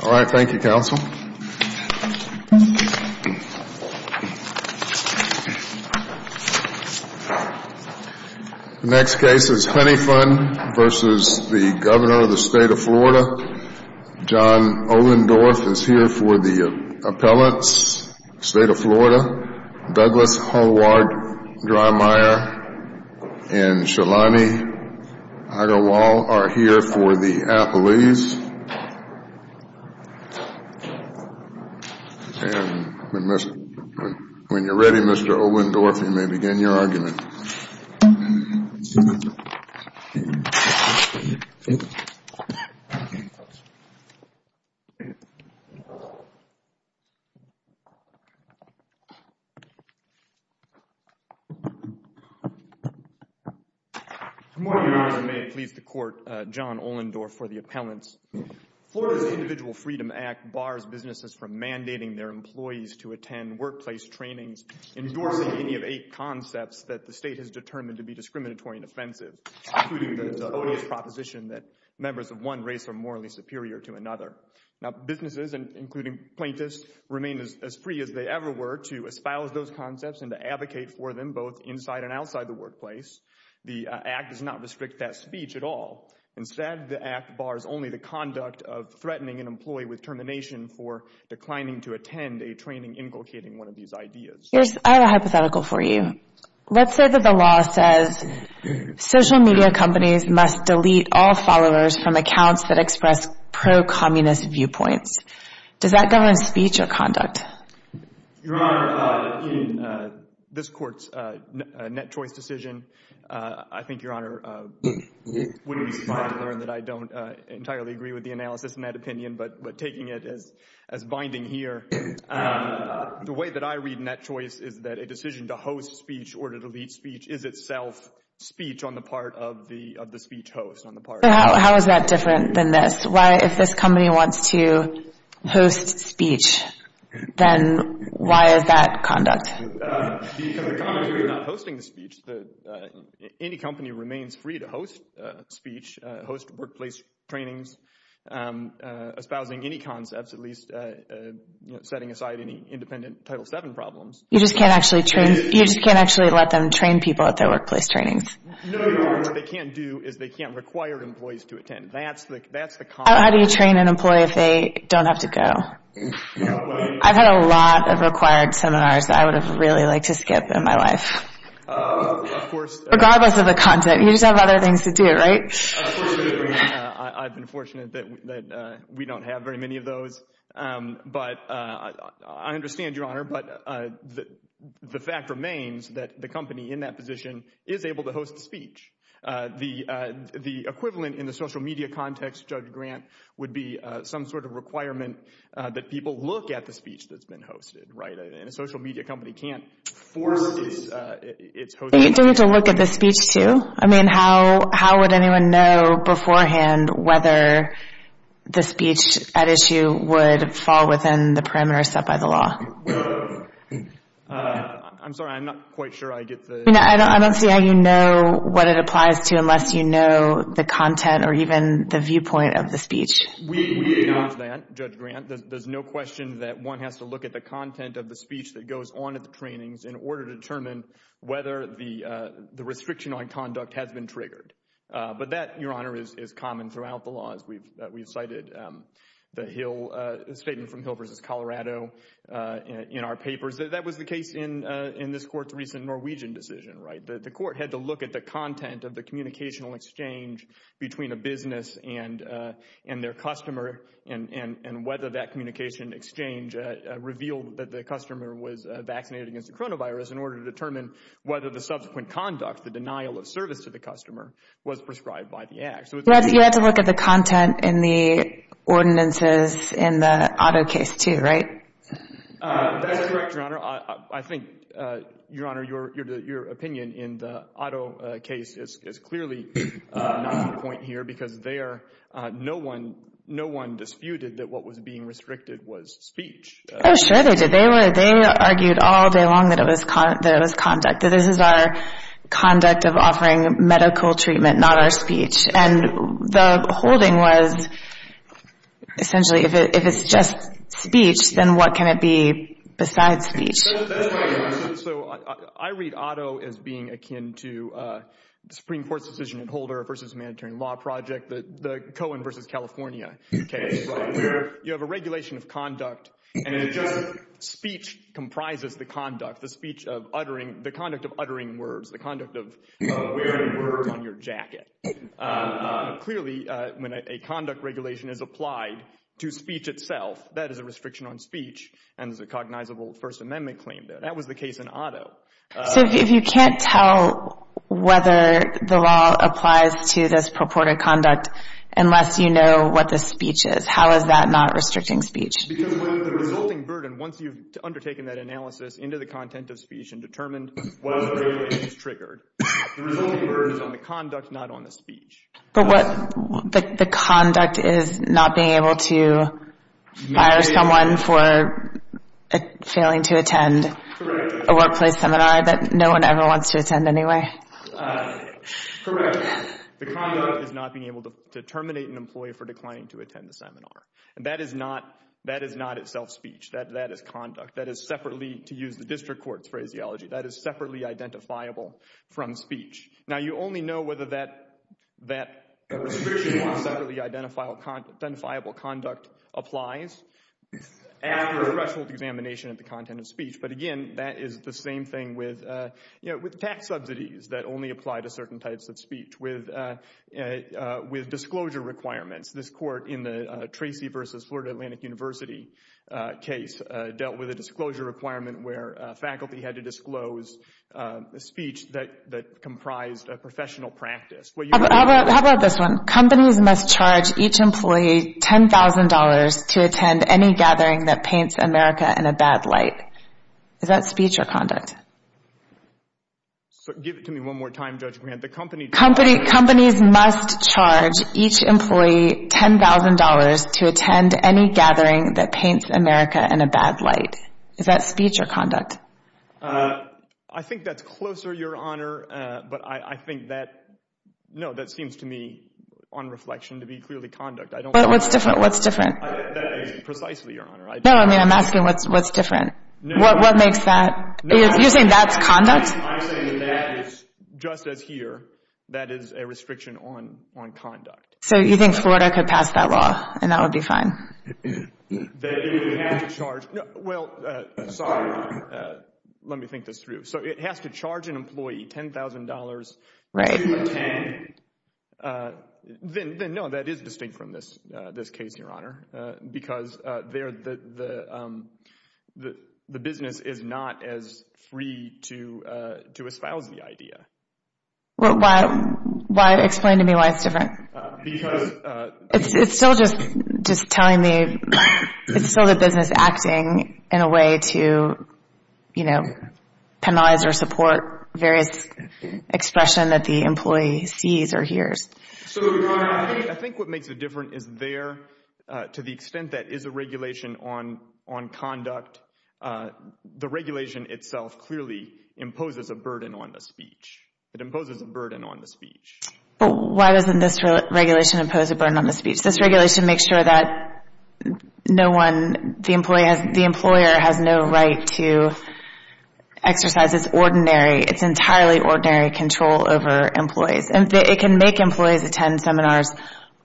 The next case is Honey Fund v. Governor, State of Florida John Ohlendorf is here for the Appellants, State of Florida Douglas Hallward-Dreimeyer and Shalani Agarwal are here for the Appellees When you're ready, Mr. Ohlendorf, you may begin your argument. Good morning, Your Honors, and may it please the Court, John Ohlendorf for the Appellants. Florida's Individual Freedom Act bars businesses from mandating their employees to attend workplace trainings endorsing any of eight concepts that the State has determined to be discriminatory and offensive, including the odious proposition that members of one race are morally superior to another. Now, businesses, including plaintiffs, remain as free as they ever were to espouse those concepts and to advocate for them both inside and outside the workplace. The Act does not restrict that speech at all. Instead, the Act bars only the conduct of threatening an employee with termination for declining to attend a training inculcating one of these ideas. I have a hypothetical for you. Let's say that the law says social media companies must delete all followers from accounts that express pro-communist viewpoints. Does that govern speech or conduct? Your Honor, in this Court's net choice decision, I think, Your Honor, it would be smart to question, but taking it as binding here, the way that I read net choice is that a decision to host speech or to delete speech is itself speech on the part of the speech host. How is that different than this? Why, if this company wants to host speech, then why is that conduct? Because the company is not hosting the speech. Any company remains free to host speech, host workplace trainings, espousing any concepts, at least setting aside any independent Title VII problems. You just can't actually train, you just can't actually let them train people at their workplace trainings. No, Your Honor, what they can't do is they can't require employees to attend. That's the, that's the con. How do you train an employee if they don't have to go? I've had a lot of required seminars that I would have really liked to skip in my life. Of course. Regardless of the content, you just have other things to do, right? Of course we do. I've been fortunate that we don't have very many of those. But I understand, Your Honor, but the fact remains that the company in that position is able to host speech. The equivalent in the social media context, Judge Grant, would be some sort of requirement that people look at the speech that's been hosted, right? And a social media company can't force its host... Are you doing it to look at the speech, too? I mean, how would anyone know beforehand whether the speech at issue would fall within the parameters set by the law? Well, I'm sorry, I'm not quite sure I get the... I don't see how you know what it applies to unless you know the content or even the viewpoint of the speech. We acknowledge that, Judge Grant. There's no question that one has to look at the content of the speech that goes on at the trainings in order to determine whether the restriction on conduct has been triggered. But that, Your Honor, is common throughout the laws. We've cited the statement from Hill v. Colorado in our papers. That was the case in this Court's recent Norwegian decision, right? The Court had to look at the content of the communicational exchange between a business and their customer and whether that communication exchange revealed that the customer was vaccinated against the coronavirus in order to determine whether the subsequent conduct, the denial of service to the customer, was prescribed by the act. You had to look at the content in the ordinances in the Otto case, too, right? That's correct, Your Honor. I think, Your Honor, your opinion in the Otto case is clearly not on point here because there, no one disputed that what was being restricted was speech. Oh, sure they did. They argued all day long that it was conduct, that this is our conduct of offering medical treatment, not our speech. And the holding was, essentially, if it's just speech, then what can it be besides speech? So I read Otto as being akin to the Supreme Court's decision in Holder v. Humanitarian Law Project, the Cohen v. California case, where you have a regulation of conduct and it's just speech comprises the conduct, the speech of uttering, the conduct of uttering words, the conduct of wearing words on your jacket. Clearly, when a conduct regulation is applied to speech itself, that is a restriction on speech and is a cognizable First Amendment claim there. That was the case in Otto. So if you can't tell whether the law applies to this purported conduct unless you know what the speech is, how is that not restricting speech? Because the resulting burden, once you've undertaken that analysis into the content of speech and determined what the burden is triggered, the resulting burden is on the conduct, not on the speech. But what, the conduct is not being able to fire someone for failing to attend a workplace seminar that no one ever wants to attend anyway. Correct. The conduct is not being able to terminate an employee for declining to attend the seminar. And that is not, that is not itself speech. That is conduct. That is separately, to use the district court's phraseology, that is separately identifiable from speech. Now, you only know whether that, that separately identifiable conduct applies after a threshold examination of the content of speech. But again, that is the same thing with, you know, with tax subsidies that only apply to certain types of speech. With, with disclosure requirements, this court in the Tracy versus Florida Atlantic University case dealt with a disclosure requirement where faculty had to disclose a speech that, that comprised a professional practice. How about, how about this one? Companies must charge each employee $10,000 to attend any gathering that paints America in a bad light. Is that speech or conduct? So give it to me one more time, Judge Grant. The company... Company, companies must charge each employee $10,000 to attend any gathering that paints America in a bad light. Is that speech or conduct? I think that's closer, Your Honor, but I, I think that, no, that seems to me, on reflection, to be clearly conduct. I don't... But what's different, what's different? That is precisely, Your Honor, I don't... No, I mean, I'm asking what's, what's different? No. What, what makes that... No. You're saying that's conduct? I'm saying that that is, just as here, that is a restriction on, on conduct. So you think Florida could pass that law and that would be fine? That it would have to charge... Well, sorry, let me think this through. So it has to charge an employee $10,000... Right. ...to attend. Then, then, no, that is distinct from this, this case, Your Honor, because they're, the, the, the, the business is not as free to, to espouse the idea. Well, why, why, explain to me why it's different. Because... It's still just, just telling me, it's still the business acting in a way to, you know, penalize or support various expression that the employee sees or hears. So, Your Honor, I think what makes it different is there, to the extent that is a regulation on, on conduct, the regulation itself clearly imposes a burden on the speech. It imposes a burden on the speech. But why doesn't this regulation impose a burden on the speech? This regulation makes sure that no one, the employee has, the employer has no right to exercise its ordinary, its entirely ordinary control over employees. And it can make employees attend seminars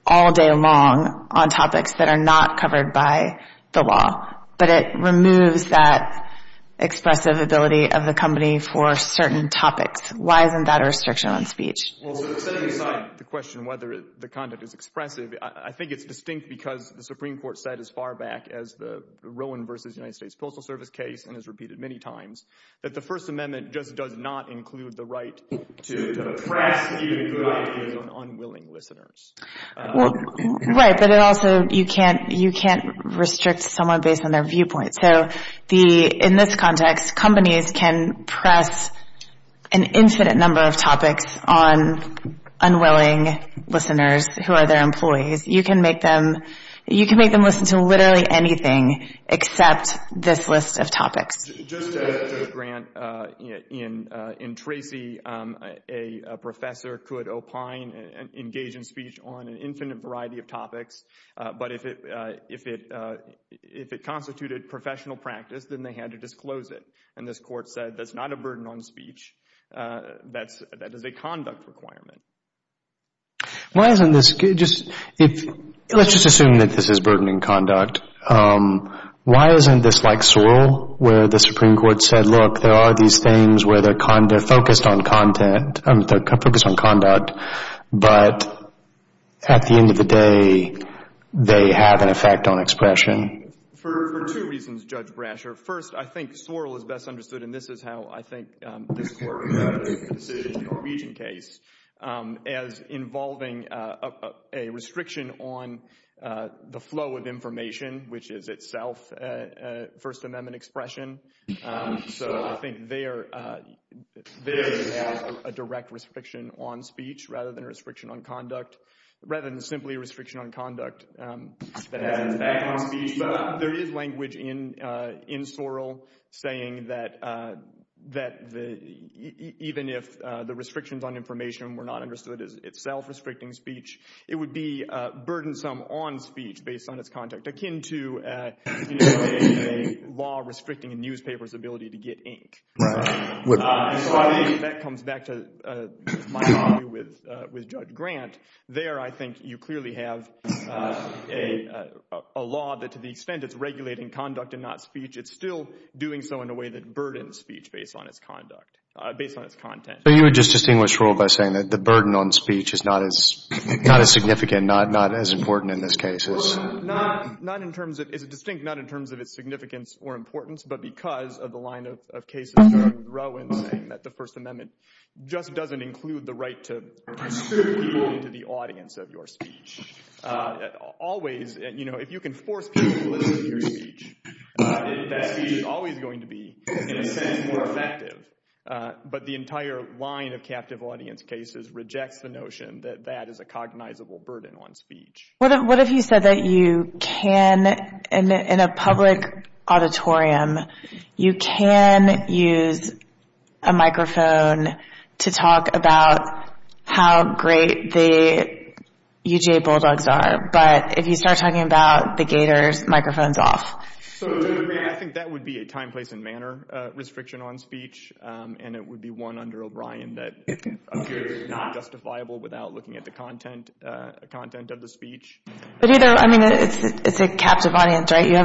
all day long on topics that are not covered by the law. But it removes that expressive ability of the company for certain topics. Why isn't that a restriction on speech? Well, setting aside the question whether the content is expressive, I think it's distinct because the Supreme Court said as far back as the Rowan versus United States Postal Service case, and has repeated many times, that the First Amendment just does not include the right to press even good ideas on unwilling listeners. Right, but it also, you can't, you can't restrict someone based on their viewpoint. On unwilling listeners who are their employees, you can make them, you can make them listen to literally anything except this list of topics. Just as Judge Grant in Tracy, a professor could opine and engage in speech on an infinite variety of topics. But if it, if it, if it constituted professional practice, then they had to disclose it. And this court said that's not a burden on speech. That's, that is a conduct requirement. Why isn't this, just, if, let's just assume that this is burdening conduct. Why isn't this like Sorrell, where the Supreme Court said, look, there are these things where they're focused on content, I mean, they're focused on conduct, but at the end of the day, they have an effect on expression? For two reasons, Judge Brasher. First, I think Sorrell is best understood, and this is how I think this court has made the decision in the Norwegian case, as involving a restriction on the flow of information, which is itself a First Amendment expression. So I think there, there is a direct restriction on speech rather than a restriction on conduct, rather than simply a restriction on conduct that has an effect on speech. There is language in, in Sorrell saying that, that even if the restrictions on information were not understood as itself restricting speech, it would be burdensome on speech based on its conduct, akin to a law restricting a newspaper's ability to get ink. That comes back to my argument with Judge Grant. There, I think you clearly have a law that, to the extent it's regulating conduct and not speech, it's still doing so in a way that burdens speech based on its conduct, based on its content. So you would just distinguish Sorrell by saying that the burden on speech is not as, not as significant, not, not as important in this case? Not, not in terms of, it's distinct, not in terms of its significance or importance, but because of the line of cases where Rowan's saying that the First Amendment just doesn't include the right to distribute to the audience of your speech. Always, you know, if you can force people to listen to your speech, that speech is always going to be, in a sense, more effective. But the entire line of captive audience cases rejects the notion that that is a cognizable burden on speech. What, what if you said that you can, in a public auditorium, you can use a microphone to talk about how great the UGA Bulldogs are, but if you start talking about the Gators, microphone's off. So, I think that would be a time, place, and manner restriction on speech. And it would be one under O'Brien that appears not justifiable without looking at the content, content of the speech. But either, I mean, it's, it's a captive audience, right? You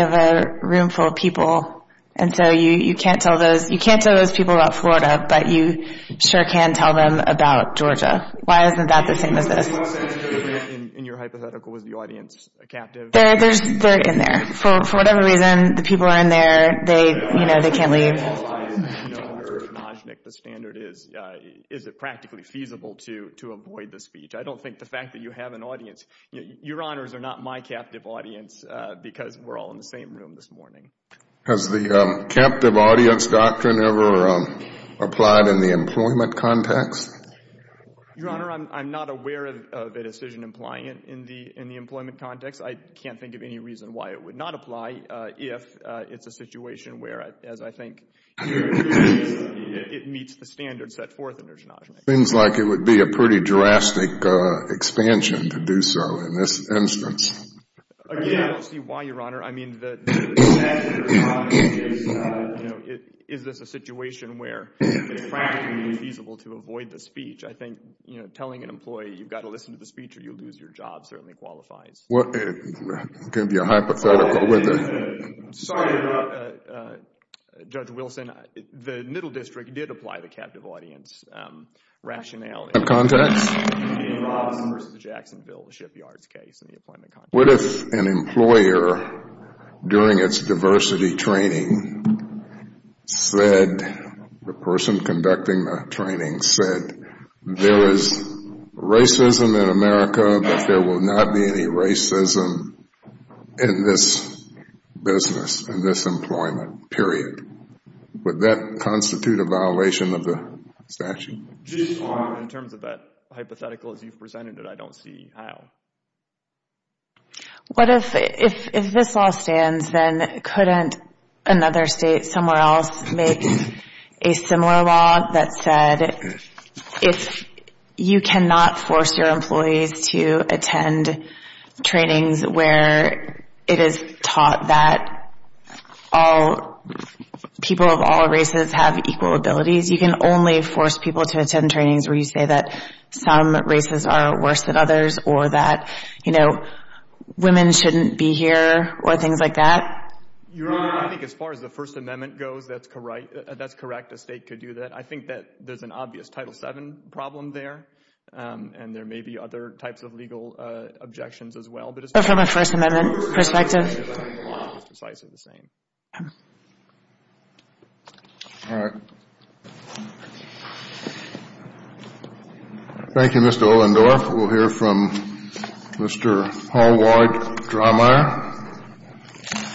have a room full of people, and so you can't tell those, you can't tell those people about Florida, but you sure can tell them about Georgia. Why isn't that the same as this? In your hypothetical, was the audience captive? They're, they're in there. For whatever reason, the people are in there. They, you know, they can't leave. The standard is, is it practically feasible to, to avoid the speech? I don't think the fact that you have an audience, your honors are not my captive audience because we're all in the same room this morning. Has the captive audience doctrine ever applied in the employment context? Your honor, I'm, I'm not aware of a decision implying it in the, in the employment context. I can't think of any reason why it would not apply if it's a situation where, as I think, it meets the standards set forth in Urgenage. Seems like it would be a pretty drastic expansion to do so in this instance. Again, I don't see why, your honor. I mean, the, the fact that you're talking is, you know, is this a situation where it's practically feasible to avoid the speech? I think, you know, telling an employee you've got to listen to the speech or you'll lose your job certainly qualifies. Well, it could be a hypothetical, wouldn't it? Sorry about, Judge Wilson. The Middle District did apply the captive audience rationale. In what context? David Robinson versus the Jacksonville shipyards case in the employment context. What if an employer during its diversity training said, the person conducting the training said, there is racism in America, but there will not be any racism in this business, in this employment, period. Would that constitute a violation of the statute? In terms of that hypothetical, as you've presented it, I don't see how. What if, if, if this law stands, then couldn't another state somewhere else make a similar law that said, if you cannot force your employees to attend trainings where it is taught that all people of all races have equal abilities, you can only force people to attend trainings where you say that some races are worse than others or that, you know, women shouldn't be here or things like that? Your Honor, I think as far as the First Amendment goes, that's correct, that's correct. A state could do that. I think that there's an obvious Title VII problem there and there may be other types of legal objections as well. But from a First Amendment perspective? It's precisely the same. All right. Thank you, Mr. Ollendorf. We'll hear from Mr. Hallward-Driemeier.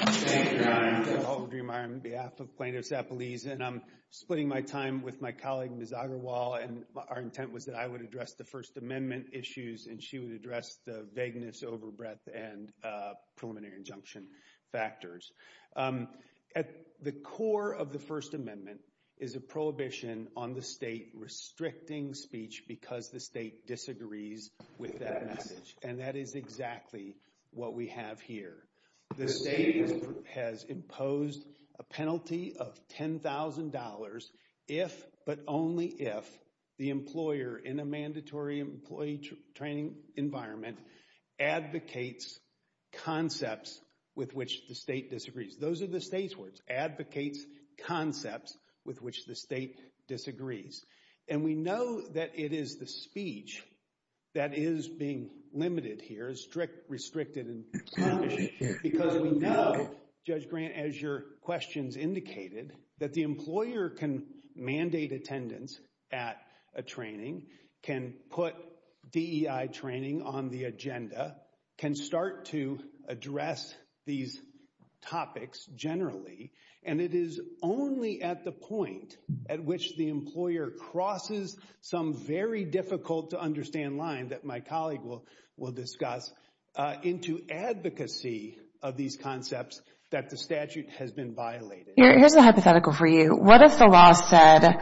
Thank you, Your Honor. I'm Hallward-Driemeier on behalf of plaintiffs at Belize and I'm splitting my time with my colleague, Ms. Agarwal, and our intent was that I would address the First Amendment issues and she would address the vagueness, overbreadth, and preliminary injunction factors. At the core of the First Amendment is a prohibition on the state restricting speech because the state disagrees with that message and that is exactly what we have here. The state has imposed a penalty of $10,000 if, but only if, the employer in a mandatory employee training environment advocates concepts with which the state disagrees. Those are the state's words. Advocates concepts with which the state disagrees. And we know that it is the speech that is being limited here, is strict, restricted, and punishing because we know, Judge Grant, as your questions indicated, that the employer can mandate attendance at a training, can put DEI training on the agenda, can start to address these topics generally, and it is only at the point at which the employer crosses some very difficult to understand line that my colleague will discuss into advocacy of these concepts that the statute has been violated. Here's a hypothetical for you. What if the law said,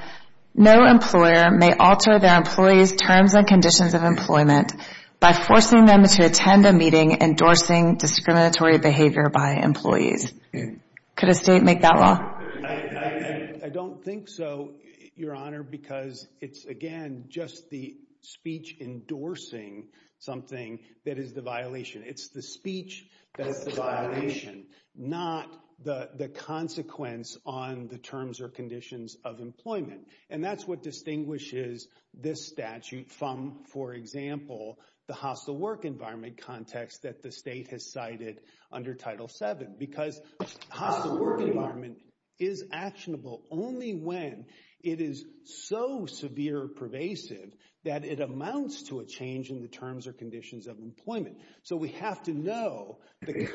no employer may alter their employees' terms and conditions of employment by forcing them to attend a meeting endorsing discriminatory behavior by employees? Could a state make that law? I don't think so, Your Honor, because it's, again, just the speech endorsing something that is the violation. It's the speech that is the violation, not the consequence on the terms or conditions of employment. And that's what distinguishes this statute from, for example, the hostile work environment context that the state has cited under Title VII because hostile work environment is actionable only when it is so severe or pervasive in the terms or conditions of employment. So we have to know the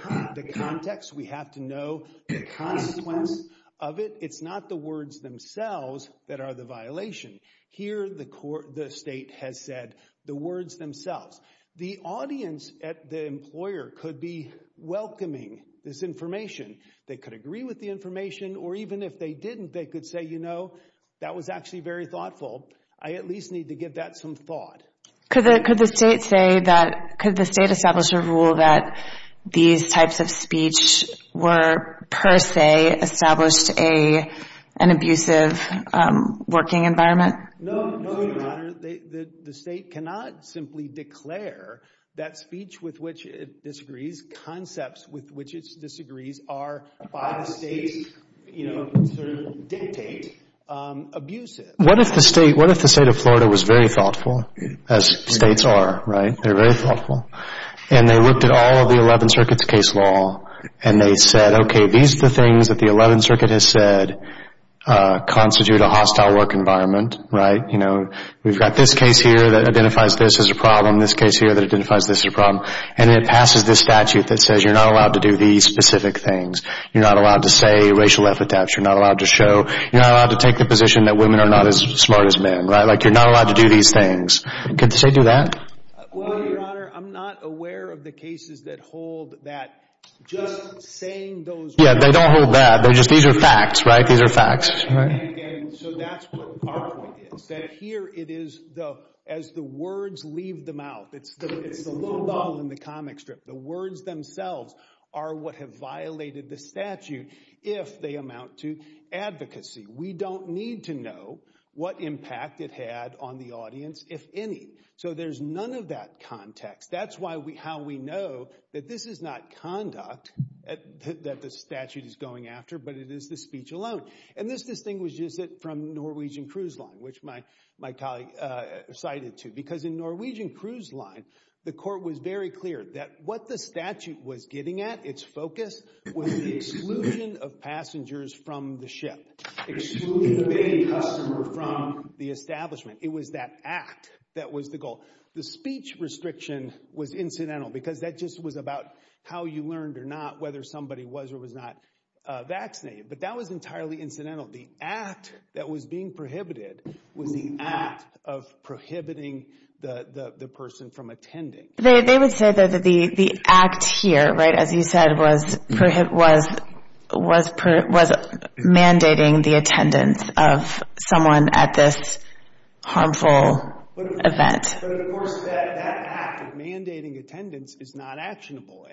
context. We have to know the consequence of it. It's not the words themselves that are the violation. Here, the state has said the words themselves. The audience at the employer could be welcoming this information. They could agree with the information, or even if they didn't, they could say, you know, that was actually very thoughtful. I at least need to give that some thought. Could the state say that, could the state establish a rule that these types of speech were per se established an abusive working environment? No, Your Honor, the state cannot simply declare that speech with which it disagrees, concepts with which it disagrees, are by the state, you know, sort of dictate abusive. What if the state of Florida was very thoughtful? As states are, right, they're very thoughtful. And they looked at all of the 11th Circuit's case law, and they said, okay, these are the things that the 11th Circuit has said constitute a hostile work environment, right? You know, we've got this case here that identifies this as a problem, this case here that identifies this as a problem. And it passes this statute that says you're not allowed to do these specific things. You're not allowed to say racial epitaphs. You're not allowed to show, you're not allowed to take the position that women are not as smart as men, right? Like, you're not allowed to do these things because they do that. Well, Your Honor, I'm not aware of the cases that hold that just saying those... Yeah, they don't hold that. They're just, these are facts, right? These are facts, right? And again, so that's what our point is, that here it is, though, as the words leave the mouth, it's the low ball in the comic strip. The words themselves are what have violated the statute if they amount to advocacy. We don't need to know what impact it had on the audience if any. So there's none of that context. That's how we know that this is not conduct that the statute is going after, but it is the speech alone. And this distinguishes it from Norwegian Cruise Line, which my colleague cited too. Because in Norwegian Cruise Line, the court was very clear that what the statute was getting at, its focus, was the exclusion of passengers from the ship, excluding the main customer from the establishment. It was that act that was the goal. The speech restriction was incidental because that just was about how you learned or not whether somebody was or was not vaccinated. But that was entirely incidental. The act that was being prohibited was the act of prohibiting the person from attending. They would say that the act here, right, as you said, was mandating the attendance of someone at this harmful event. But of course, that act of mandating attendance is not actionable.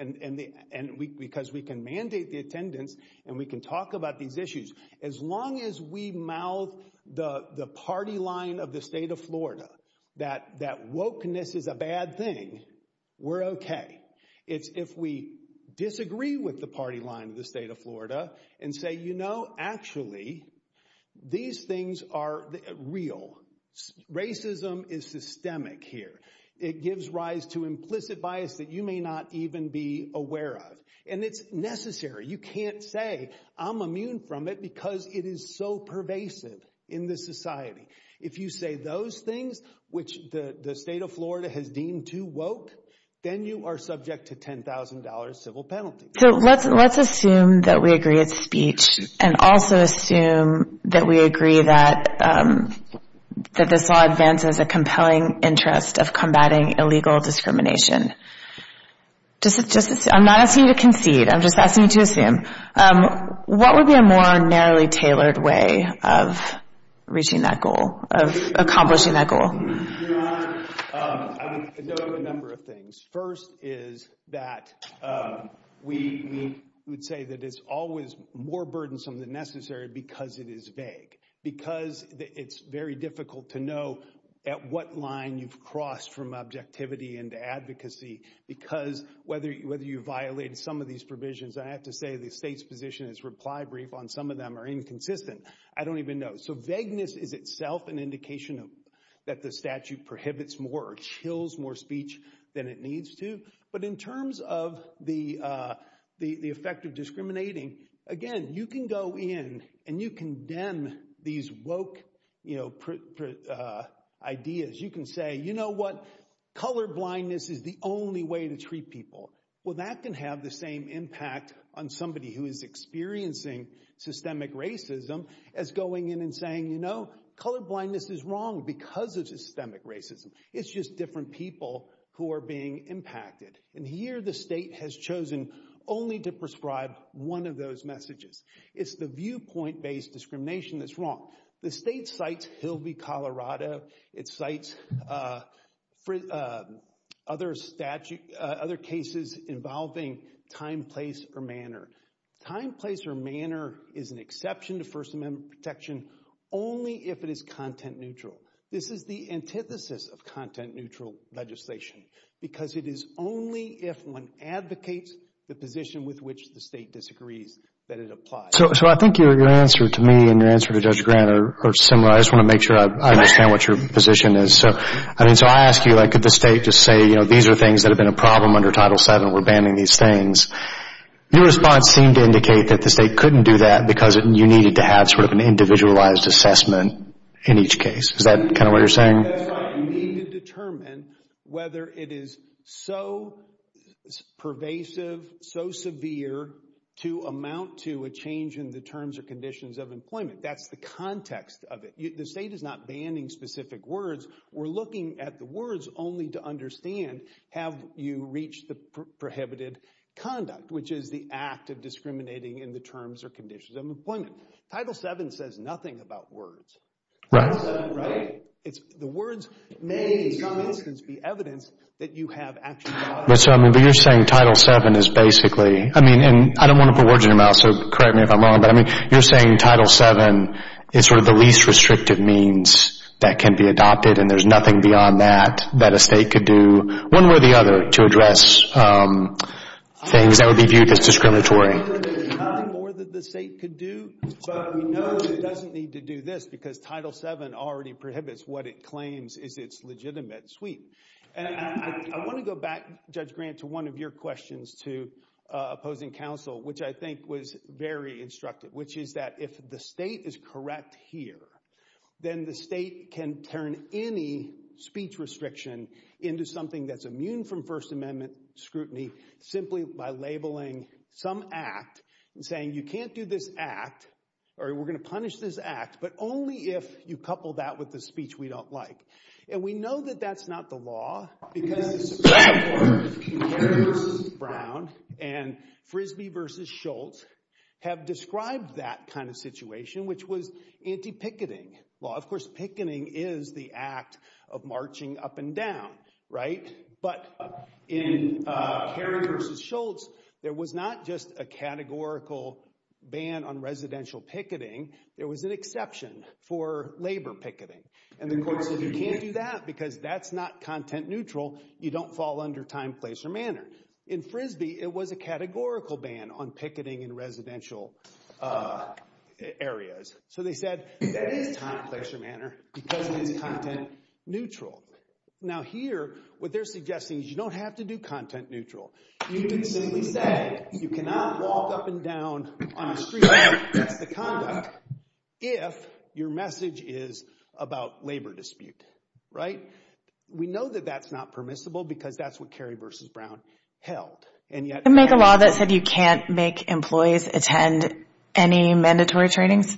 Because we can mandate the attendance and we can talk about these issues. As long as we mouth the party line of the state of Florida, that wokeness is a bad thing, we're okay. If we disagree with the party line of the state of Florida and say, actually, these things are real. Racism is systemic here. It gives rise to implicit bias that you may not even be aware of. And it's necessary. You can't say, I'm immune from it because it is so pervasive in this society. If you say those things, which the state of Florida has deemed too woke, then you are subject to $10,000 civil penalty. So let's assume that we agree it's speech and also assume that we agree that this law advances a compelling interest of combating illegal discrimination. I'm not asking you to concede. I'm just asking you to assume. What would be a more narrowly tailored way of reaching that goal, of accomplishing that goal? I would note a number of things. First is that we would say that it's always more burdensome than necessary because it is vague. Because it's very difficult to know at what line you've crossed from objectivity into advocacy. Because whether you violate some of these provisions, I have to say the state's position is reply brief on some of them are inconsistent. I don't even know. So vagueness is itself an indication that the statute prohibits more chills, more speech than it needs to. But in terms of the effect of discriminating, again, you can go in and you condemn these woke ideas. You can say, you know what, colorblindness is the only way to treat people. Well, that can have the same impact on somebody who is experiencing systemic racism as going in and saying, you know, colorblindness is wrong because of systemic racism. It's just different people who are being impacted. And here the state has chosen only to prescribe one of those messages. It's the viewpoint-based discrimination that's wrong. The state cites Hilby, Colorado. It cites other cases involving time, place, or manner. Time, place, or manner is an exception to First Amendment protection only if it is content neutral. This is the antithesis of content neutral legislation because it is only if one advocates the position with which the state disagrees that it applies. So I think your answer to me and your answer to Judge Grant are similar. I just want to make sure I understand what your position is. So I ask you, could the state just say, these are things that have been a problem under Title VII. We're banning these things. Your response seemed to indicate that the state couldn't do that because you needed to have sort of an individualized assessment in each case. Is that kind of what you're saying? That's right. You need to determine whether it is so pervasive, so severe to amount to a change in the terms or conditions of employment. That's the context of it. The state is not banning specific words. We're looking at the words only to understand have you reached the prohibited conduct, which is the act of discriminating in the terms or conditions of employment. Title VII says nothing about words. Right. The words may, for instance, be evidence that you have actually done it. But you're saying Title VII is basically, I mean, and I don't want to put words in your mouth, so correct me if I'm wrong, but I mean, you're saying Title VII is sort of the least restrictive means that can be adopted and there's nothing beyond that, that a state could do one way or the other to address things that would be viewed as discriminatory. There's nothing more that the state could do, but we know that it doesn't need to do this because Title VII already prohibits what it claims is its legitimate sweep. And I want to go back, Judge Grant, to one of your questions to opposing counsel, which I think was very instructive, which is that if the state is correct here, then the state can turn any speech restriction into something that's immune from First Amendment scrutiny simply by labeling some act and saying you can't do this act or we're going to punish this act, but only if you couple that with the speech we don't like. And we know that that's not the law because the Supreme Court, Kerry v. Brown and Frisbee v. Schultz have described that kind of situation, which was anti-picketing law. Of course, picketing is the act of marching up and down, right? But in Kerry v. Schultz, there was not just a categorical ban on residential picketing, there was an exception for labor picketing. And the courts said you can't do that because that's not content neutral. You don't fall under time, place, or manner. In Frisbee, it was a categorical ban on picketing in residential areas. So they said that is time, place, or manner because it is content neutral. Now here, what they're suggesting is you don't have to do content neutral. You can simply say you cannot walk up and down on the street. That's the conduct. If your message is about labor dispute, right? We know that that's not permissible because that's what Kerry v. Brown held. And yet- Can you make a law that said you can't make employees attend any mandatory trainings?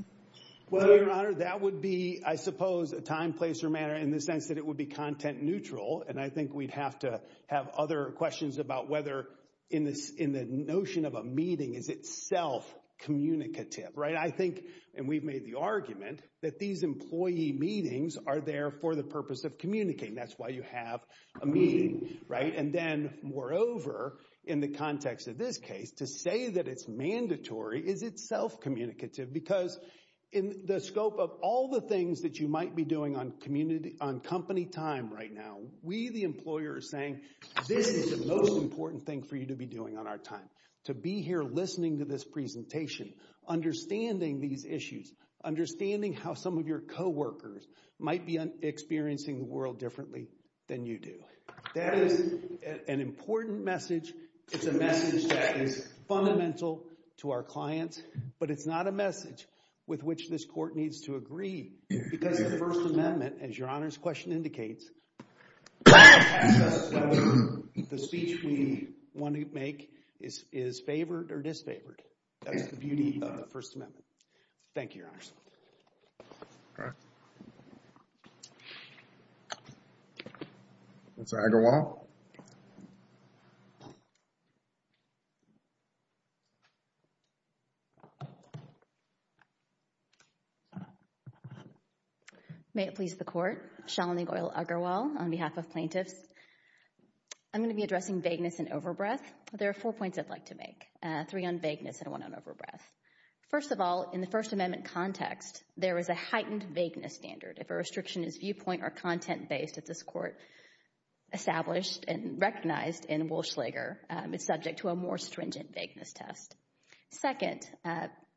Well, Your Honor, that would be, I suppose, a time, place, or manner in the sense that it would be content neutral. And I think we'd have to have other questions about whether in the notion of a meeting is it self-communicative, right? I think, and we've made the argument, that these employee meetings are there for the purpose of communicating. That's why you have a meeting, right? And then, moreover, in the context of this case, to say that it's mandatory is it self-communicative because in the scope of all the things that you might be doing on company time right now, we, the employer, are saying this is the most important thing for you to be doing on our time, to be here listening to this presentation, understanding these issues, understanding how some of your co-workers might be experiencing the world differently than you do. That is an important message. It's a message that is fundamental to our clients, but it's not a message with which this Court needs to agree because the First Amendment, as Your Honor's question indicates, the speech we want to make is favored or disfavored. That is the beauty of the First Amendment. Thank you, Your Honor. Okay. Ms. Agarwal. May it please the Court. Shalini Goyal Agarwal on behalf of plaintiffs. I'm going to be addressing vagueness and overbreath. There are four points I'd like to make, three on vagueness and one on overbreath. First of all, in the First Amendment context, there is a heightened vagueness standard. If a restriction is viewpoint or content-based at this Court established and recognized in Walschlager, it's subject to a more stringent vagueness test. Second,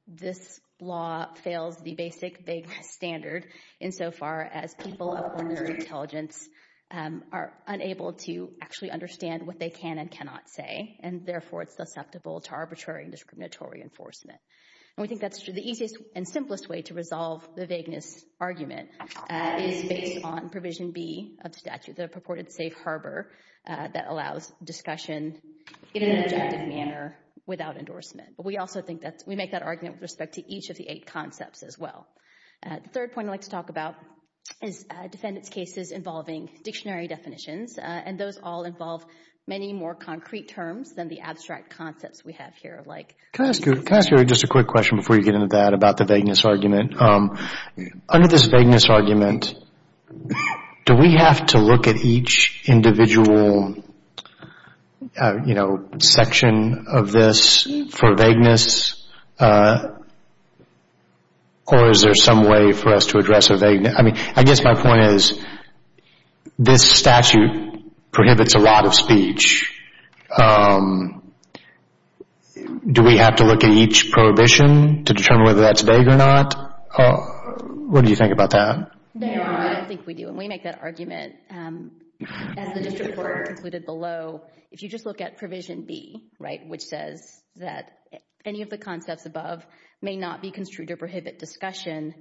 this law fails the basic vagueness standard insofar as people of ordinary intelligence are unable to actually understand what they can and cannot say. Therefore, it's susceptible to arbitrary and discriminatory enforcement. And we think that's the easiest and simplest way to resolve the vagueness argument is based on Provision B of the statute, the purported safe harbor that allows discussion in an objective manner without endorsement. But we also think that we make that argument with respect to each of the eight concepts as well. The third point I'd like to talk about is defendants' cases involving dictionary definitions. And those all involve many more concrete terms than the abstract concepts we have here. Can I ask you just a quick question before you get into that about the vagueness argument? Under this vagueness argument, do we have to look at each individual section of this for vagueness? Or is there some way for us to address a vagueness? I mean, I guess my point is this statute prohibits a lot of speech. Do we have to look at each prohibition to determine whether that's vague or not? What do you think about that? No, I don't think we do. And we make that argument as the district court concluded below. If you just look at Provision B, right, which says that any of the concepts above may not be construed to prohibit discussion.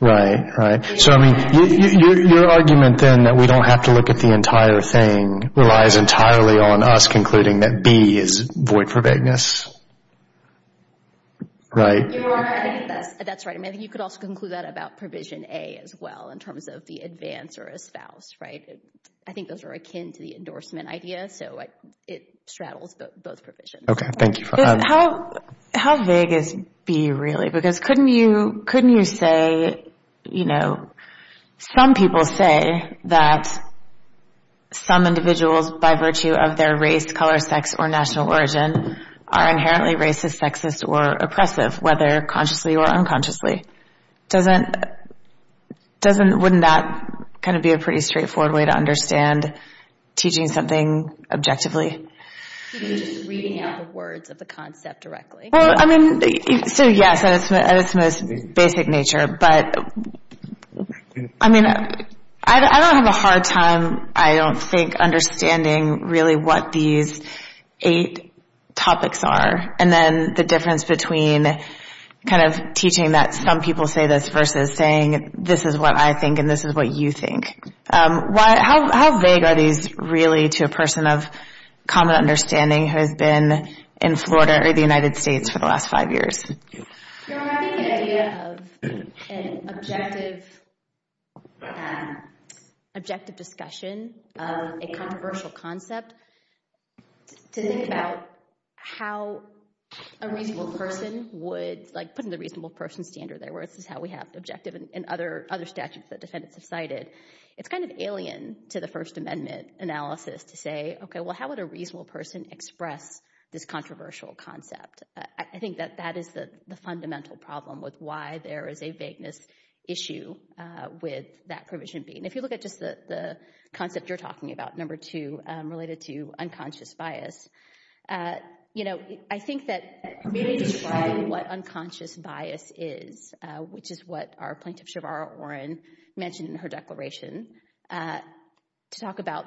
Right, right. So, I mean, your argument then that we don't have to look at the entire thing relies entirely on us concluding that B is void for vagueness. Right? That's right. You could also conclude that about Provision A as well in terms of the advance or espouse, right? I think those are akin to the endorsement idea. So it straddles both provisions. OK, thank you for that. How vague is B really? Because couldn't you say, you know, some people say that some individuals by virtue of their race, color, sex, or national origin are inherently racist, sexist, or oppressive, whether consciously or unconsciously. Wouldn't that kind of be a pretty straightforward way to understand teaching something objectively? Could it be just reading out the words of the concept directly? Well, I mean, yes, at its most basic nature. But I mean, I don't have a hard time, I don't think, understanding really what these eight topics are. And then the difference between kind of teaching that some people say this versus saying this is what I think and this is what you think. How vague are these really to a person of common understanding who has been in Florida or the United States for the last five years? You're having an idea of an objective discussion of a controversial concept to think about how a reasonable person would, like putting the reasonable person standard there, where this is how we have objective and other statutes that defendants have cited. It's kind of alien to the First Amendment analysis to say, okay, well, how would a reasonable person express this controversial concept? I think that that is the fundamental problem with why there is a vagueness issue with that provision B. And if you look at just the concept you're talking about, number two, related to unconscious bias, I think that maybe describing what unconscious bias is, which is what our plaintiff, Shavara Oren, mentioned in her declaration to talk about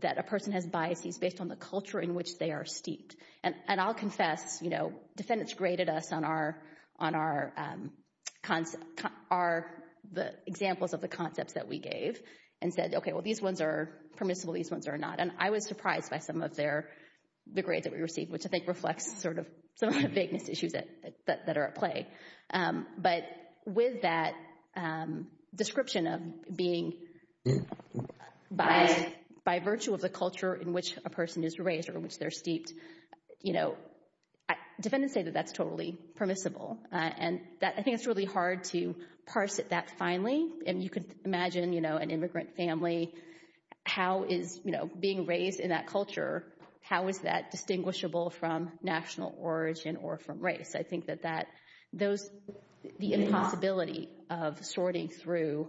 that a person has biases based on the culture in which they are steeped. And I'll confess, defendants graded us on the examples of the concepts that we gave and said, okay, well, these ones are permissible, these ones are not. And I was surprised by some of the grades that we received, which I think reflects sort of some of the vagueness issues that are at play. But with that description of being by virtue of the culture in which a person is raised or in which they're steeped, defendants say that that's totally permissible. And I think it's really hard to parse it that finely. And you could imagine an immigrant family, how is being raised in that culture, how is that distinguishable from national origin or from race? I think that the impossibility of sorting through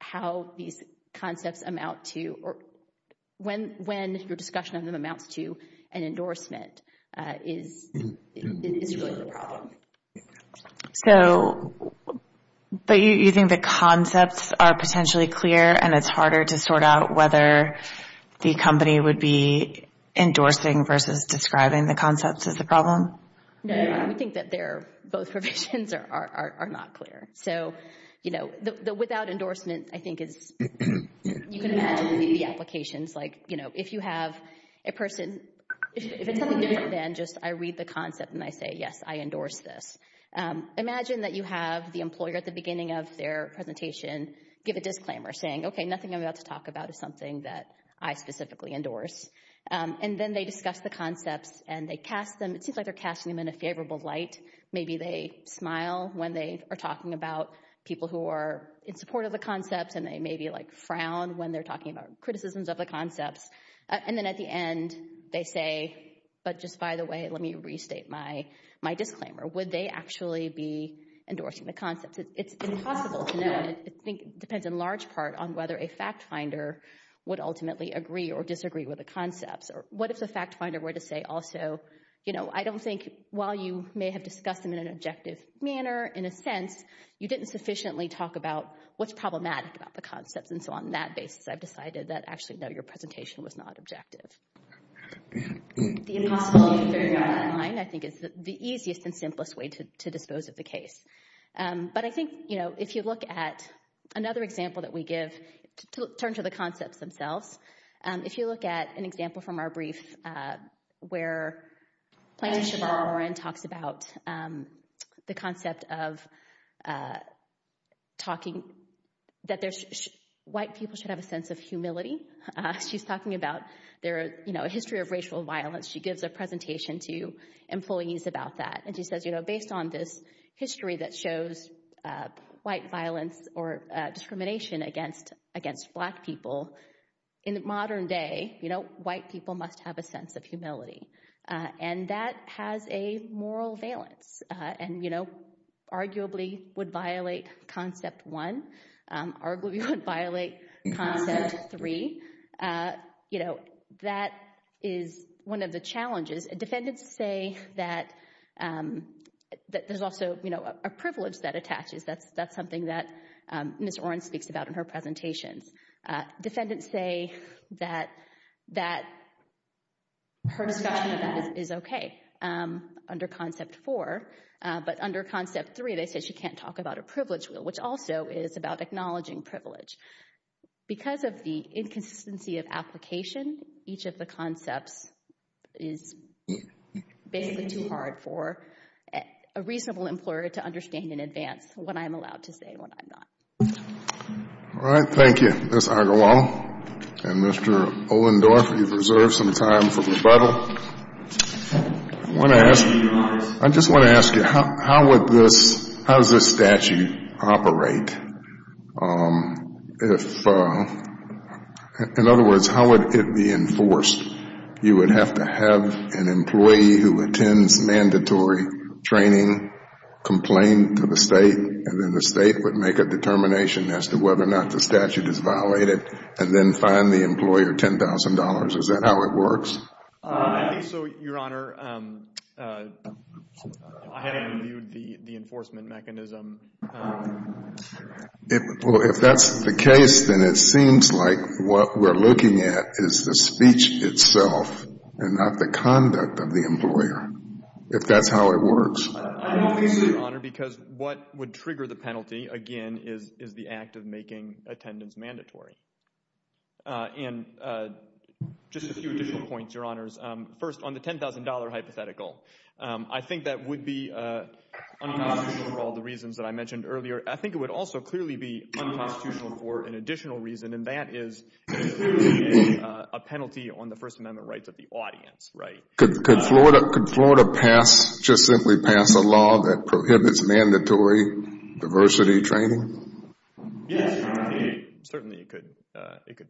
how these concepts amount to, when your discussion of them amounts to an endorsement is really the problem. So, but you think the concepts are potentially clear and it's harder to sort out whether the company would be endorsing versus describing the concepts as the problem? No, we think that they're both provisions are not clear. So, you know, the without endorsement, I think is you can imagine the applications. Like, you know, if you have a person, if it's something different than just I read the concept and I say, yes, I endorse this. Imagine that you have the employer at the beginning of their presentation, give a disclaimer saying, okay, nothing I'm about to talk about is something that I specifically endorse. And then they discuss the concepts and they cast them. It seems like they're casting them in a favorable light. Maybe they smile when they are talking about people who are in support of the concepts and they maybe like frown when they're talking about criticisms of the concepts. And then at the end, they say, but just by the way, let me restate my disclaimer. Would they actually be endorsing the concepts? It's impossible to know. I think it depends in large part on whether a fact finder would ultimately agree or disagree with the concepts. Or what if the fact finder were to say, I don't think while you may have discussed them in an objective manner, in a sense, you didn't sufficiently talk about what's problematic about the concepts. And so on that basis, I've decided that actually, no, your presentation was not objective. The impossibility of figuring out a line, I think is the easiest and simplest way to dispose of the case. But I think if you look at another example that we give, turn to the concepts themselves. If you look at an example from our brief where Plaintiff Chevron talks about the concept of talking, that white people should have a sense of humility. She's talking about a history of racial violence. She gives a presentation to employees about that. And she says, based on this history that shows white violence or discrimination against black people in the modern day, white people must have a sense of humility. And that has a moral valence and arguably would violate concept one, arguably would violate concept three. That is one of the challenges. Defendants say that there's also a privilege that attaches. That's something that Ms. Oren speaks about in her presentations. Defendants say that her discussion of that is okay under concept four. But under concept three, they say she can't talk about a privilege, which also is about acknowledging privilege. Because of the inconsistency of application, each of the concepts is basically too hard for a reasonable employer to understand in advance what I'm allowed to say and what I'm not. All right. Thank you, Ms. Agawam and Mr. Ohlendorf. You've reserved some time for rebuttal. I want to ask, I just want to ask you, how would this, how does this statute operate? If, in other words, how would it be enforced? You would have to have an employee who attends mandatory training complain to the state and then the state would make a determination as to whether or not the statute is violated and then fine the employer $10,000. Is that how it works? I think so, Your Honor. I haven't reviewed the enforcement mechanism. Well, if that's the case, then it seems like what we're looking at is the speech itself and not the conduct of the employer, if that's how it works. I don't think so, Your Honor, because what would trigger the penalty, again, is the act of making attendance mandatory. And just a few additional points, Your Honors. First, on the $10,000 hypothetical, I think that would be unconstitutional for all the reasons that I mentioned earlier. I think it would also clearly be unconstitutional for an additional reason, and that is clearly a penalty on the First Amendment rights of the audience, right? Could Florida pass, just simply pass a law that prohibits mandatory diversity training? Yes, Your Honor. Certainly, it could.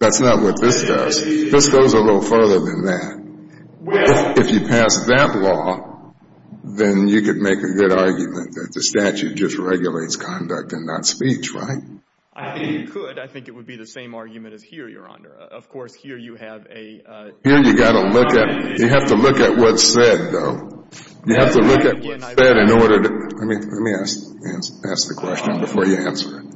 That's not what this does. This goes a little further than that. If you pass that law, then you could make a good argument that the statute just regulates conduct and not speech, right? I think you could. I think it would be the same argument as here, Your Honor. Of course, here you have a... Here you got to look at... You have to look at what's said, though. You have to look at what's said in order to... Let me ask the question before you answer it.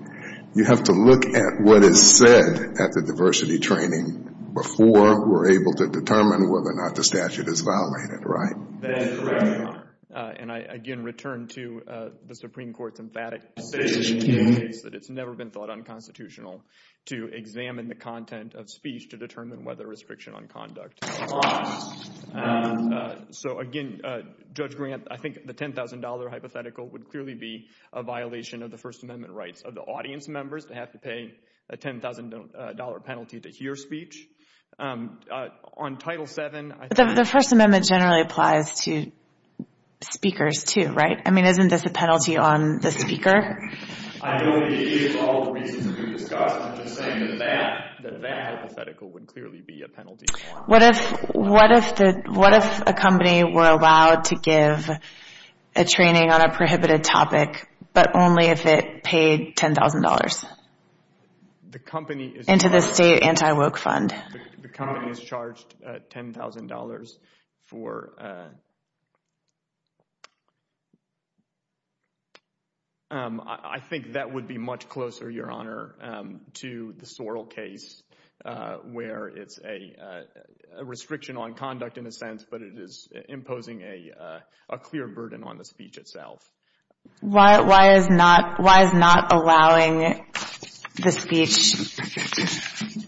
You have to look at what is said at the diversity training before we're able to determine whether or not the statute is violated, right? That is correct, Your Honor. And I, again, return to the Supreme Court's emphatic decision in the case that it's never been thought unconstitutional to examine the content of speech to determine whether restriction on conduct is law. So, again, Judge Grant, I think the $10,000 hypothetical would clearly be a violation of the First Amendment rights of the audience members to have to pay a $10,000 penalty to hear speech. On Title VII, I think... The First Amendment generally applies to speakers, too, right? I mean, isn't this a penalty on the speaker? I know it is for all the reasons that we've discussed. I'm just saying that that... would clearly be a penalty. What if a company were allowed to give a training on a prohibited topic, but only if it paid $10,000? The company is... Into the state anti-woke fund. The company is charged $10,000 for... I think that would be much closer, Your Honor, to the Sorrell case, where it's a restriction on conduct in a sense, but it is imposing a clear burden on the speech itself. Why is not allowing the speech...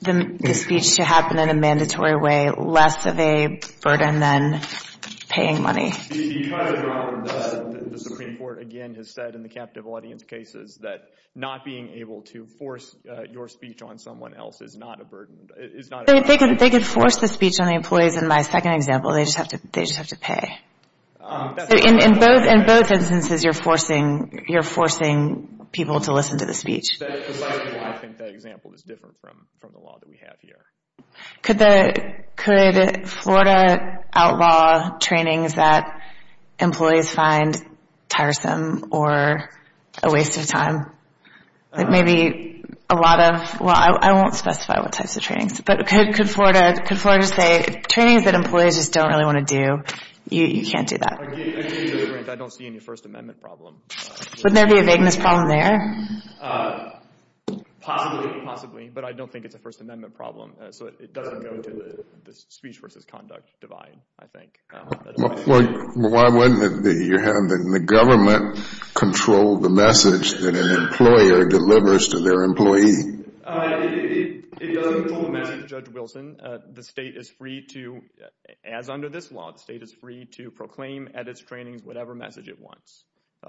the speech to happen in a mandatory way less of a burden than paying money? The Supreme Court, again, has said in the captive audience cases that not being able to force your speech on someone else is not a burden. They could force the speech on the employees in my second example. They just have to pay. In both instances, you're forcing people to listen to the speech. I think that example is different from the law that we have here. Could Florida outlaw trainings that employees find tiresome or a waste of time? Maybe a lot of... Well, I won't specify what types of trainings, but could Florida say, trainings that employees just don't really want to do, you can't do that? Again, to be frank, I don't see any First Amendment problem. Wouldn't there be a vagueness problem there? Possibly, but I don't think it's a First Amendment problem, so it doesn't go into the speech versus conduct divide, I think. Why wouldn't it be, Your Honor, that the government controlled the message that an employer delivers to their employee? It doesn't control the message, Judge Wilson. The state is free to, as under this law, the state is free to proclaim at its trainings whatever message it wants.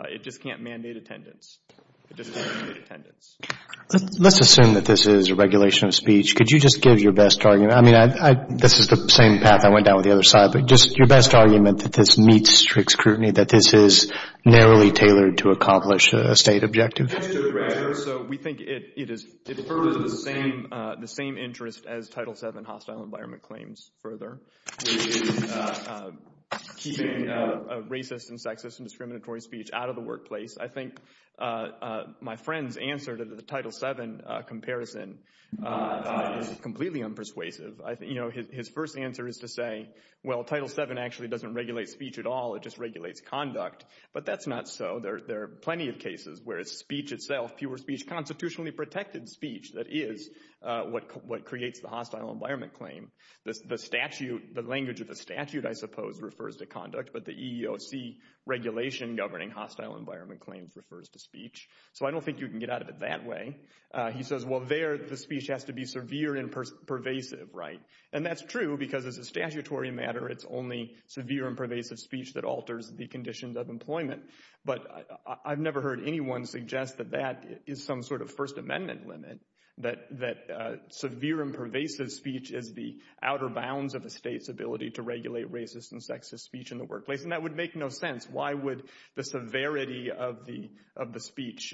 It just can't mandate attendance. It just can't mandate attendance. Let's assume that this is a regulation of speech. Could you just give your best argument? I mean, this is the same path I went down with the other side, but just your best argument that this meets strict scrutiny, that this is narrowly tailored to accomplish a state objective? Mr. Grager, so we think it is, it furthers the same, the same interest as Title VII hostile environment claims further, keeping racist and sexist and discriminatory speech out of the workplace. I think my friend's answer to the Title VII comparison is completely unpersuasive. I think, you know, his first answer is to say, well, Title VII actually doesn't regulate speech at all. It just regulates conduct, but that's not so. There are plenty of cases where it's speech itself, fewer speech, constitutionally protected speech that is what creates the hostile environment claim. The statute, the language of the statute, I suppose, refers to conduct, but the EEOC regulation governing hostile environment claims refers to speech. So I don't think you can get out of it that way. He says, well, there the speech has to be severe and pervasive, right? And that's true because as a statutory matter, it's only severe and pervasive speech that alters the conditions of employment. But I've never heard anyone suggest that that is some sort of First Amendment limit, that severe and pervasive speech is the outer bounds of a state's ability to regulate racist and sexist speech in the workplace. And that would make no sense. Why would the severity of the speech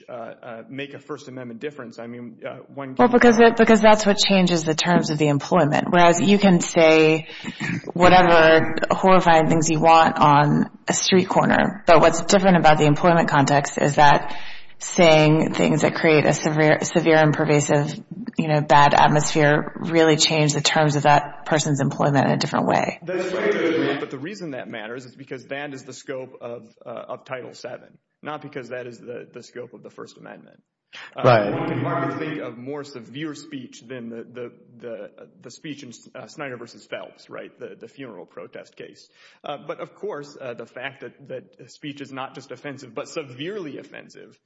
make a First Amendment difference? I mean, one... Well, because that's what changes the terms of the employment. Whereas you can say whatever horrifying things you want on a street corner, but what's different about the employment context is that saying things that create a severe and pervasive, you know, bad atmosphere really change the terms of that person's employment in a different way. But the reason that matters is because that is the scope of Title VII, not because that is the scope of the First Amendment. Right. One can hardly think of more severe speech than the speech in Snyder v. Phelps, right? The funeral protest case. But of course, the fact that speech is not just offensive, but severely offensive,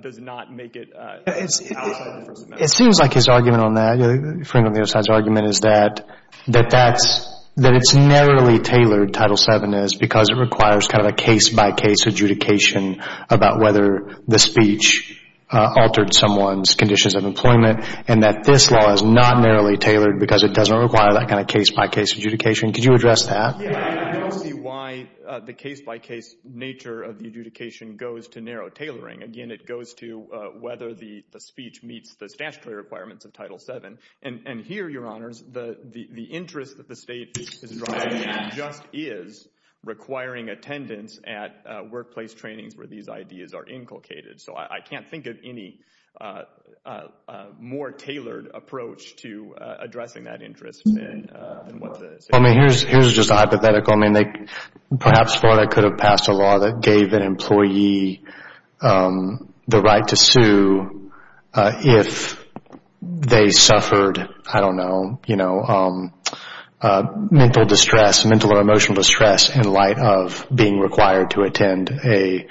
does not make it... It seems like his argument on that, referring to the other side's argument, is that it's narrowly tailored, Title VII is, because it requires kind of a case-by-case adjudication about whether the speech altered someone's conditions of employment, and that this law is not narrowly tailored because it doesn't require that kind of case-by-case adjudication. Could you address that? I don't see why the case-by-case nature of the adjudication goes to narrow tailoring. Again, it goes to whether the speech meets the statutory requirements of Title VII. And here, Your Honors, the interest that the state is driving just is requiring attendance at workplace trainings where these ideas are inculcated. So I can't think of any more tailored approach to addressing that interest. Here's just a hypothetical. Perhaps Florida could have passed a law that gave an employee the right to sue if they suffered, I don't know, mental distress, mental or emotional distress, in light of being required to attend a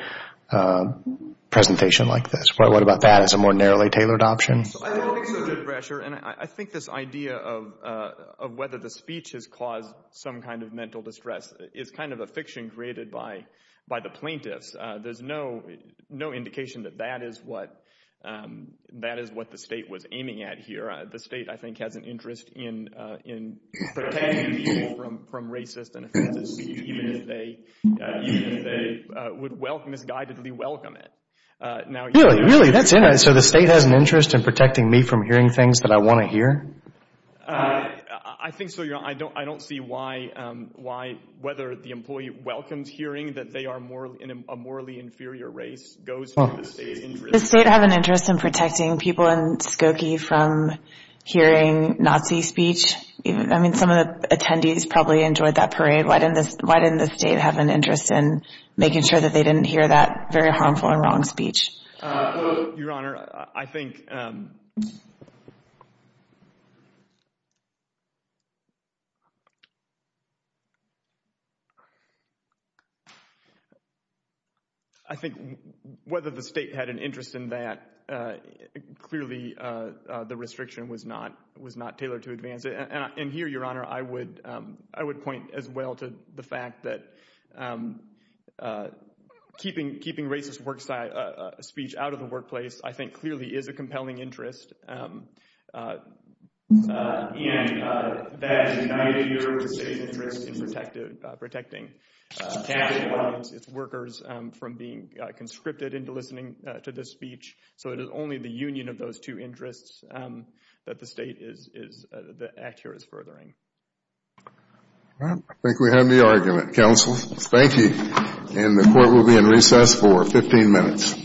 presentation like this. What about that as a more narrowly tailored option? I don't think so, Judge Brasher. And I think this idea of whether the speech has caused some kind of mental distress is kind of a fiction created by the plaintiffs. There's no indication that that is what the state was aiming at here. The state, I think, has an interest in protecting people from racist and offensive speech even if they would misguidedly welcome it. Really? That's it? So the state has an interest in protecting me from hearing things that I want to hear? I think so, Your Honor. I don't see why whether the employee welcomes hearing that they are a morally inferior race goes to the state's interest. Does the state have an interest in protecting people in Skokie from hearing Nazi speech? I mean, some of the attendees probably enjoyed that parade. Why didn't the state have an interest in making sure that they didn't hear that very harmful and wrong speech? Your Honor, I think... I think whether the state had an interest in that, clearly the restriction was not tailored to advance it. And here, Your Honor, I would point as well to the fact that keeping racist speech out of the workplace, I think, clearly is a compelling interest. And that united the state's interest in protecting tax employees, its workers, from being conscripted into listening to this speech. So it is only the union of those two interests that the state is... the act here is furthering. All right. I think we have the argument, counsel. Thank you. And the court will be in recess for 15 minutes.